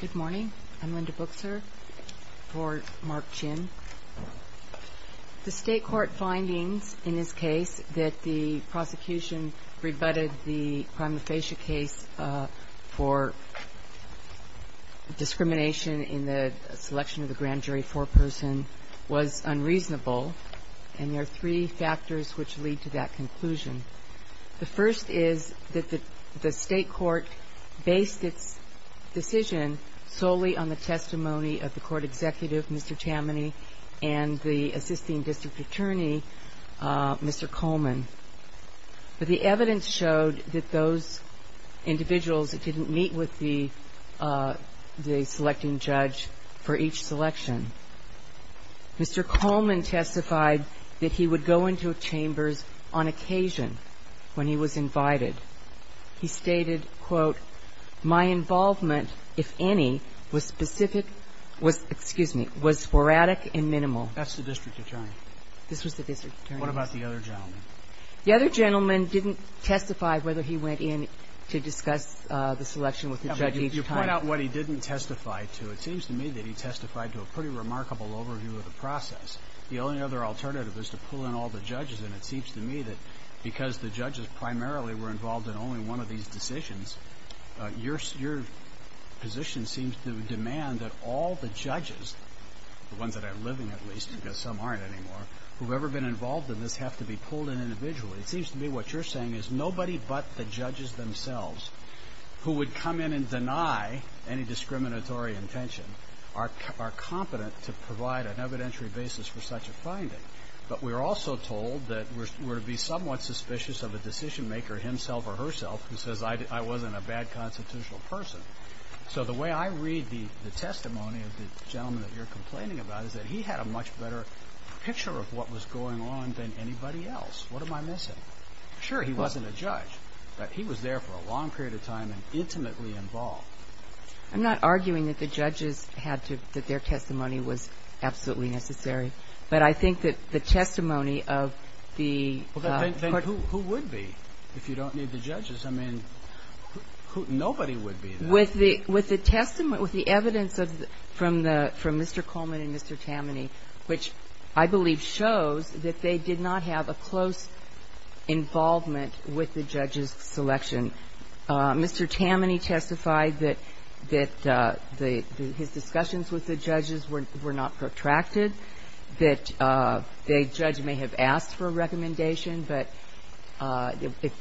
Good morning. I'm Linda Booker for Mark Chin. The state court findings in this case that the prosecution rebutted the prima facie case for discrimination in the selection of the grand jury foreperson was unreasonable, and there are three factors which lead to that The state court based its decision solely on the testimony of the court executive, Mr. Tammany, and the assisting district attorney, Mr. Coleman. But the evidence showed that those individuals didn't meet with the selecting judge for each selection. Mr. Coleman testified that he would go into chambers on occasion when he was invited. He stated, quote, my involvement, if any, was specific, was, excuse me, was sporadic and minimal. That's the district attorney. This was the district attorney. What about the other gentleman? The other gentleman didn't testify whether he went in to discuss the selection with the judge each time. You point out what he didn't testify to. It seems to me that he testified to a pretty The only other alternative is to pull in all the judges, and it seems to me that because the judges primarily were involved in only one of these decisions, your position seems to demand that all the judges, the ones that are living at least, because some aren't anymore, who've ever been involved in this have to be pulled in individually. It seems to me what you're saying is nobody but the judges themselves, who would come in and deny any find it. But we're also told that we're to be somewhat suspicious of a decision-maker himself or herself who says I wasn't a bad constitutional person. So the way I read the testimony of the gentleman that you're complaining about is that he had a much better picture of what was going on than anybody else. What am I missing? Sure, he wasn't a judge, but he was there for a long period of time and intimately involved. I'm not arguing that the judges had to, that their testimony was absolutely necessary, but I think that the testimony of the person who would be, if you don't need the judges. I mean, nobody would be there. With the testimony, with the evidence from Mr. Coleman and Mr. Tammany, which I believe shows that they did not have a close involvement with the judges' selection. Mr. Tammany testified that his discussions with the judges were not protracted. That the judge may have asked for a recommendation, but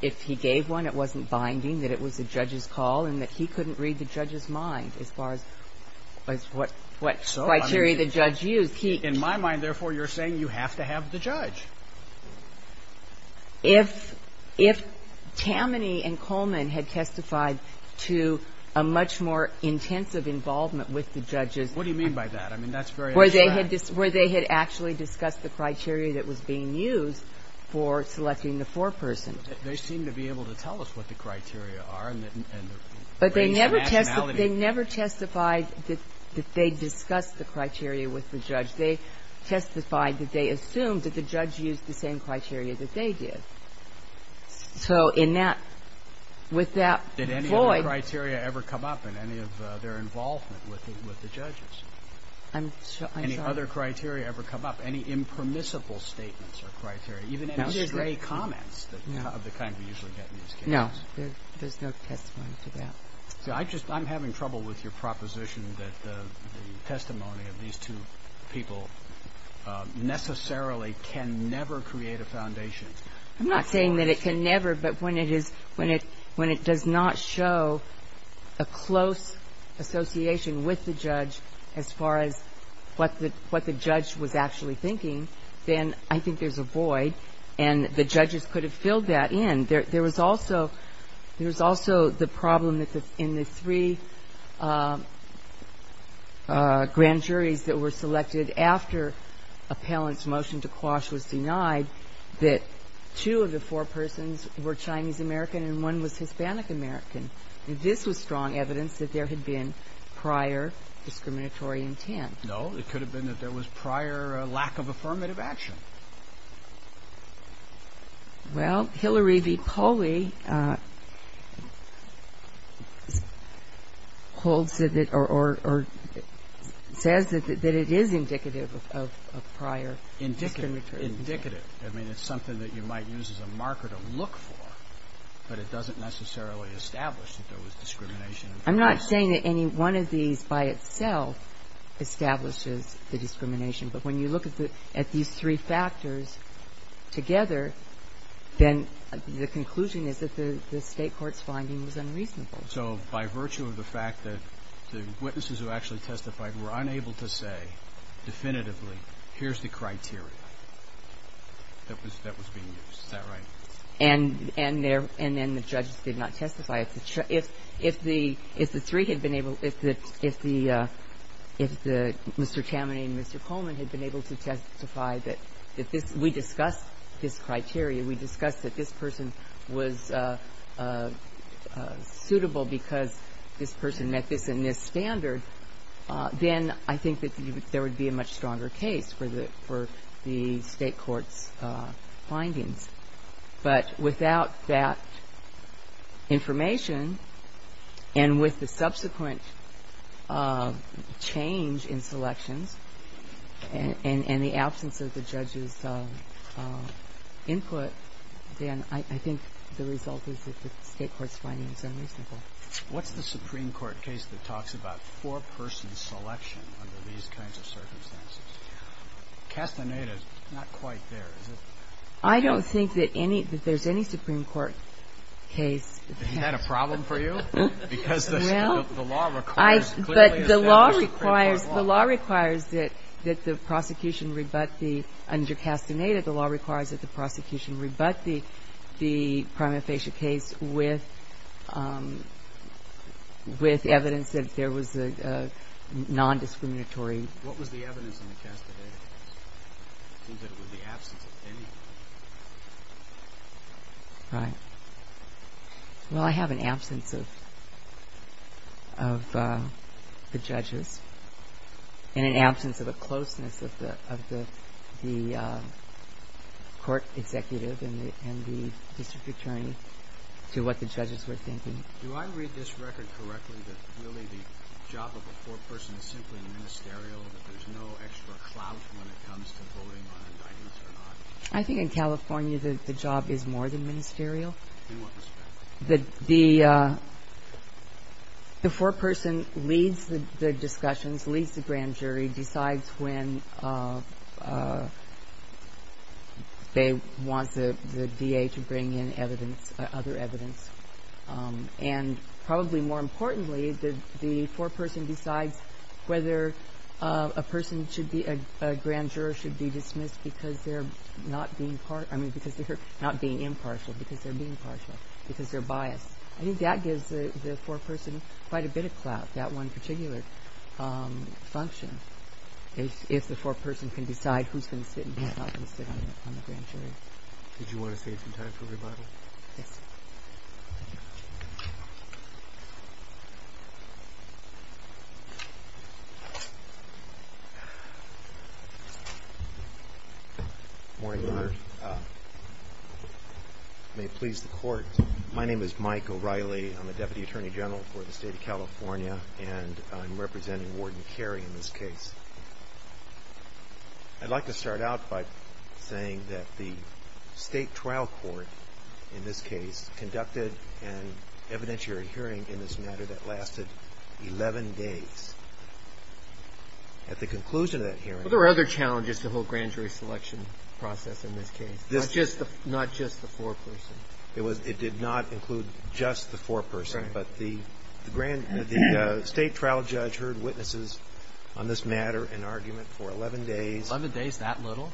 if he gave one, it wasn't binding, that it was the judge's call and that he couldn't read the judge's mind as far as what criteria the judge used. In my mind, therefore, you're saying you have to have the judge. If Tammany and Coleman had testified to a much more intensive involvement with the judges. What do you mean by that? I mean, that's very abstract. Where they had actually discussed the criteria that was being used for selecting the foreperson. They seem to be able to tell us what the criteria are. But they never testified that they discussed the criteria with the judge. They testified that they assumed that the judge used the same criteria that they did. So in that, with that void. Did any of the criteria ever come up in any of their involvement with the judges? I'm sorry. Any other criteria ever come up? Any impermissible statements or criteria? Even any stray comments of the kind we usually get in these cases? No. There's no testimony to that. I'm having trouble with your proposition that the testimony of these two people necessarily can never create a foundation. I'm not saying that it can never. But when it does not show a close association with the judge as far as what the judge was actually thinking, then I think there's a void. And the judges could have filled that in. There was also the problem in the three grand juries that were selected after Appellant's motion to quash was denied that two of the four persons were Chinese American and one was Hispanic American. This was strong evidence that there had been prior discriminatory intent. No. It could have been that there was prior lack of affirmative action. Well, Hillary v. Poli holds it or says that it is indicative of prior discriminatory intent. It's indicative. I mean, it's something that you might use as a marker to look for, but it doesn't necessarily establish that there was discrimination. I'm not saying that any one of these by itself establishes the discrimination. But when you look at these three factors together, then the conclusion is that the State court's finding was unreasonable. So by virtue of the fact that the witnesses who actually testified were unable to say definitively, here's the criteria that was being used. Is that right? And then the judges did not testify. If the three had been able to, if Mr. Tammany and Mr. Coleman had been able to testify that we discussed this criteria, we discussed that this person was suitable because this person met this and this standard, then I think that there would be a much stronger case for the State court's findings. But without that information and with the subsequent change in selections and the absence of the judge's input, then I think the result is that the State court's findings are unreasonable. What's the Supreme Court case that talks about four-person selection under these kinds of circumstances? Castaneda is not quite there, is it? I don't think that there's any Supreme Court case. Is that a problem for you? Because the law requires that the prosecution rebut the under Castaneda. The law requires that the prosecution rebut the prima facie case with evidence that there was a non-discriminatory. What was the evidence in the Castaneda case? It seemed that it was the absence of anything. Right. Well, I have an absence of the judges and an absence of a closeness of the court executive and the district attorney to what the judges were thinking. Do I read this record correctly that really the job of a four-person is simply ministerial, that there's no extra clout when it comes to voting on indictments or not? I think in California the job is more than ministerial. In what respect? The four-person leads the discussions, leads the grand jury, decides when they want the DA to bring in evidence, other evidence. And probably more importantly, the four-person decides whether a person should be a grand juror should be dismissed because they're not being impartial. Because they're being impartial, because they're biased. I think that gives the four-person quite a bit of clout, that one particular function. If the four-person can decide who's going to sit and who's not going to sit on the grand jury. Did you want to save some time for rebuttal? Yes. Morning, Your Honor. May it please the court. My name is Mike O'Reilly. I'm a deputy attorney general for the state of California, and I'm representing Warden Carey in this case. I'd like to start out by saying that the state trial court in this case conducted an evidentiary hearing in this matter that lasted 11 days. At the conclusion of that hearing. Well, there were other challenges to the whole grand jury selection process in this case, not just the four-person. It did not include just the four-person, but the state trial judge heard witnesses on this matter in argument for 11 days. 11 days, that little?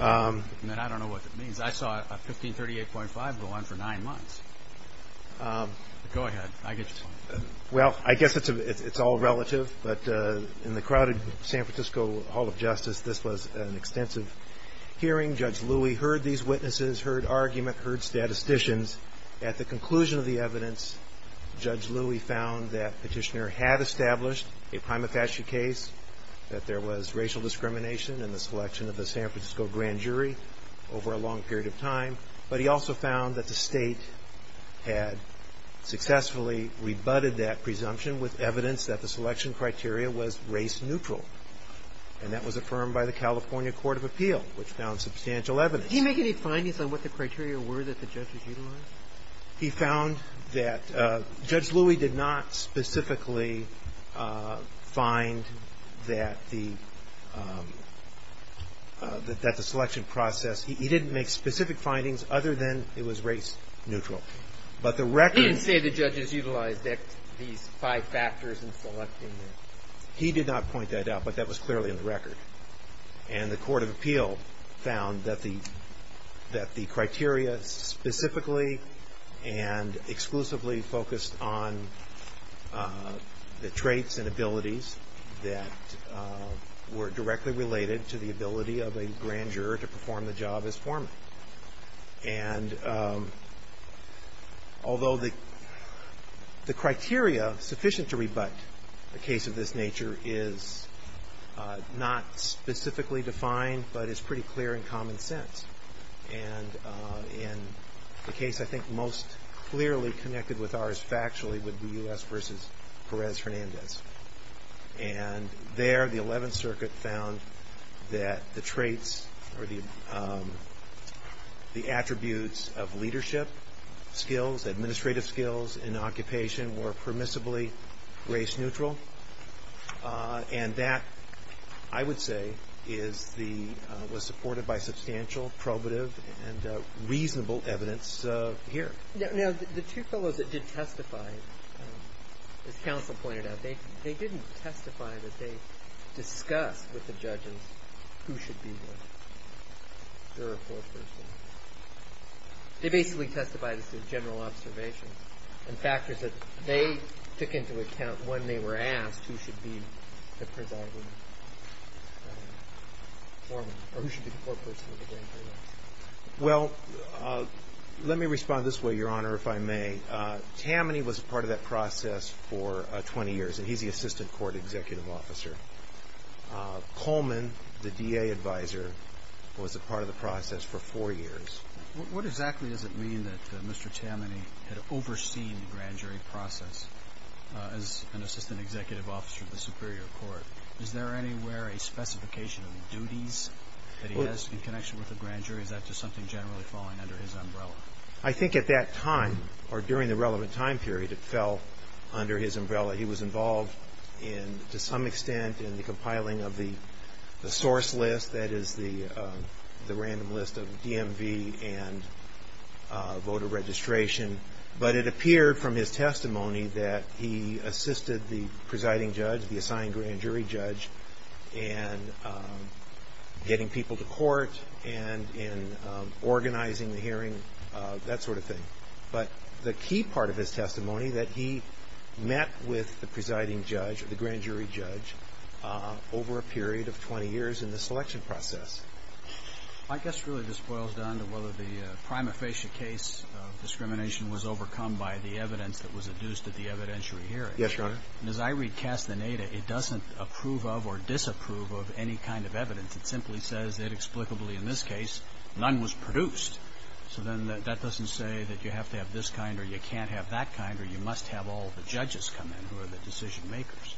I mean, I don't know what that means. I saw a 1538.5 go on for nine months. Go ahead. Well, I guess it's all relative, but in the crowded San Francisco Hall of Justice, this was an extensive hearing. Judge Louie heard these witnesses, heard argument, heard statisticians. At the conclusion of the evidence, Judge Louie found that Petitioner had established a prima facie case, that there was racial discrimination in the selection of the San Francisco grand jury over a long period of time. But he also found that the state had successfully rebutted that presumption with evidence that the selection criteria was race neutral. And that was affirmed by the California Court of Appeal, which found substantial evidence. Did he make any findings on what the criteria were that the judges utilized? He found that Judge Louie did not specifically find that the selection process, he didn't make specific findings other than it was race neutral. He didn't say the judges utilized these five factors in selecting it. He did not point that out, but that was clearly in the record. And the Court of Appeal found that the criteria specifically and exclusively focused on the traits and abilities that were directly related to the ability of a grand juror to perform the job as foreman. And although the criteria sufficient to rebut a case of this nature is not specifically defined, but is pretty clear in common sense. And in the case I think most clearly connected with ours factually would be U.S. v. Perez-Hernandez. And there the Eleventh Circuit found that the traits or the attributes of leadership skills, administrative skills in occupation were permissibly race neutral. And that, I would say, was supported by substantial probative and reasonable evidence here. Now, the two fellows that did testify, as counsel pointed out, they didn't testify that they discussed with the judges who should be the juror foreperson. They basically testified as to general observations and factors that they took into account when they were asked who should be the presiding foreman or who should be the foreperson of the grand jury. Well, let me respond this way, Your Honor, if I may. Tammany was a part of that process for 20 years, and he's the assistant court executive officer. Coleman, the DA advisor, was a part of the process for four years. What exactly does it mean that Mr. Tammany had overseen the grand jury process as an assistant executive officer of the Superior Court? Is there anywhere a specification of duties that he has in connection with the grand jury? Is that just something generally falling under his umbrella? I think at that time, or during the relevant time period, it fell under his umbrella. He was involved in, to some extent, in the compiling of the source list, that is the random list of DMV and voter registration. But it appeared from his testimony that he assisted the presiding judge, the assigned grand jury judge, in getting people to court and in organizing the hearing, that sort of thing. But the key part of his testimony that he met with the presiding judge, the grand jury judge, over a period of 20 years in the selection process. My guess really just boils down to whether the prima facie case of discrimination was overcome by the evidence that was adduced at the evidentiary hearing. Yes, Your Honor. And as I read Castaneda, it doesn't approve of or disapprove of any kind of evidence. It simply says that, explicably in this case, none was produced. So then that doesn't say that you have to have this kind or you can't have that kind or you must have all the judges come in who are the decision makers.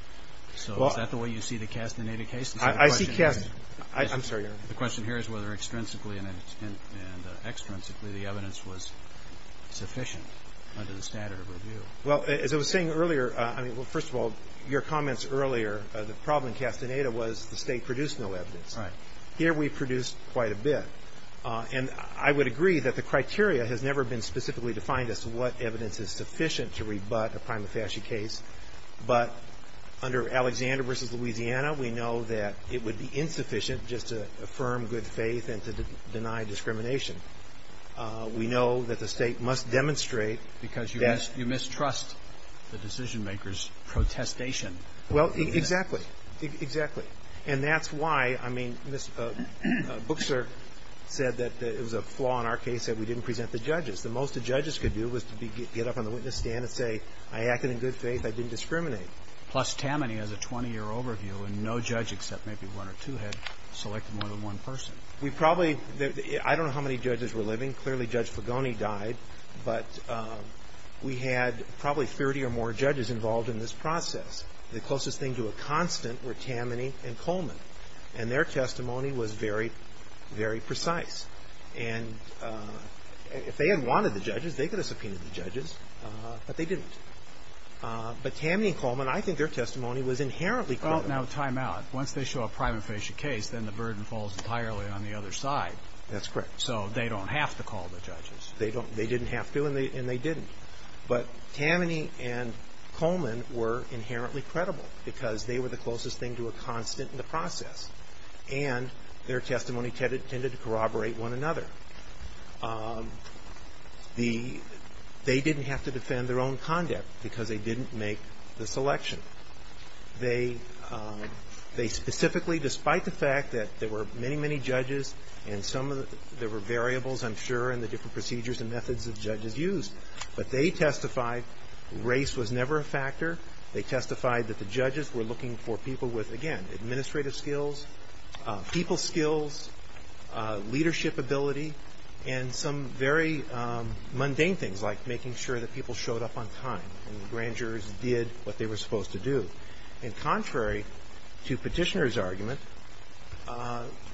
So is that the way you see the Castaneda case? I see Castaneda. I'm sorry, Your Honor. The question here is whether extrinsically and extrinsically the evidence was sufficient under the standard of review. Well, as I was saying earlier, I mean, well, first of all, your comments earlier, the problem in Castaneda was the State produced no evidence. Right. Here we produced quite a bit. And I would agree that the criteria has never been specifically defined as to what evidence is sufficient to rebut a prima facie case. But under Alexander v. Louisiana, we know that it would be insufficient just to affirm good faith and to deny discrimination. We know that the State must demonstrate that. Because you mistrust the decision makers' protestation. Well, exactly. Exactly. And that's why, I mean, Bookster said that it was a flaw in our case that we didn't present the judges. The most the judges could do was to get up on the witness stand and say, I acted in good faith. I didn't discriminate. Plus, Tammany has a 20-year overview. And no judge except maybe one or two had selected more than one person. We probably – I don't know how many judges were living. Clearly, Judge Fagoni died. But we had probably 30 or more judges involved in this process. The closest thing to a constant were Tammany and Coleman. And their testimony was very, very precise. And if they had wanted the judges, they could have subpoenaed the judges. But they didn't. But Tammany and Coleman, I think their testimony was inherently credible. Well, now, time out. Once they show a prima facie case, then the burden falls entirely on the other side. That's correct. So they don't have to call the judges. They didn't have to, and they didn't. But Tammany and Coleman were inherently credible, because they were the closest thing to a constant in the process. And their testimony tended to corroborate one another. The – they didn't have to defend their own conduct, because they didn't make the selection. They specifically, despite the fact that there were many, many judges, and some of the – there were variables, I'm sure, in the different procedures and methods that judges used. But they testified race was never a factor. They testified that the judges were looking for people with, again, administrative skills, people skills, leadership ability, and some very mundane things like making sure that people showed up on time and the grand jurors did what they were supposed to do. And contrary to Petitioner's argument,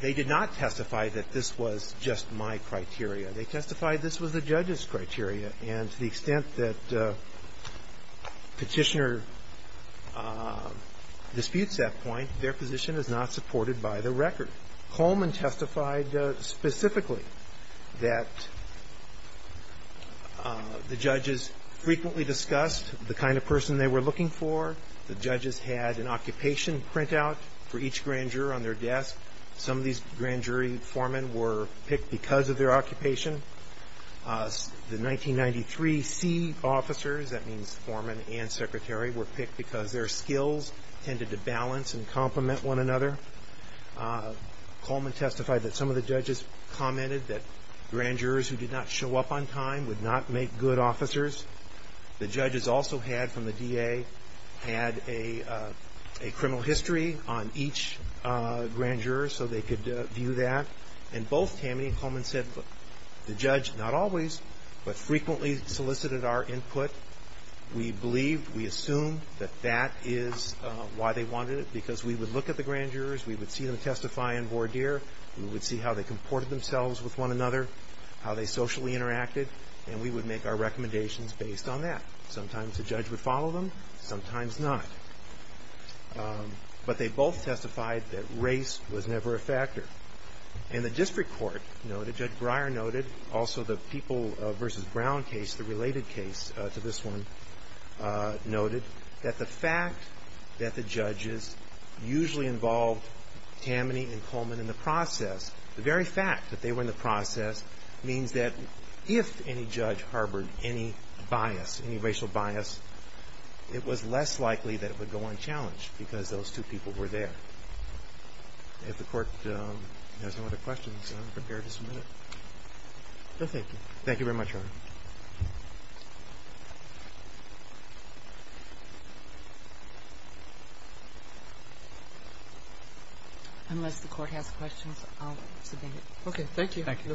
they did not testify that this was just my criteria. They testified this was the judges' criteria. And to the extent that Petitioner disputes that point, their position is not supported by the record. Coleman testified specifically that the judges frequently discussed the kind of person they were looking for. The judges had an occupation printout for each grand juror on their desk. Some of these grand jury foremen were picked because of their occupation. The 1993 C officers, that means foreman and secretary, were picked because their skills tended to balance and complement one another. Coleman testified that some of the judges commented that grand jurors who did not show up on time would not make good officers. The judges also had, from the DA, had a criminal history on each grand juror so they could view that. And both Tammany and Coleman said the judge not always but frequently solicited our input. We believed, we assumed that that is why they wanted it because we would look at the grand jurors. We would see them testify in voir dire. We would see how they comported themselves with one another, how they socially interacted, and we would make our recommendations based on that. Sometimes the judge would follow them, sometimes not. But they both testified that race was never a factor. And the district court noted, Judge Breyer noted, also the People v. Brown case, the related case to this one, noted that the fact that the judges usually involved Tammany and Coleman in the process, the very fact that they were in the process means that if any judge harbored any bias, any racial bias, it was less likely that it would go unchallenged because those two people were there. If the court has no other questions, I'm prepared to submit it. No, thank you. Thank you very much, Your Honor. Unless the court has questions, I'll submit it. Okay, thank you. Thank you, Counsel.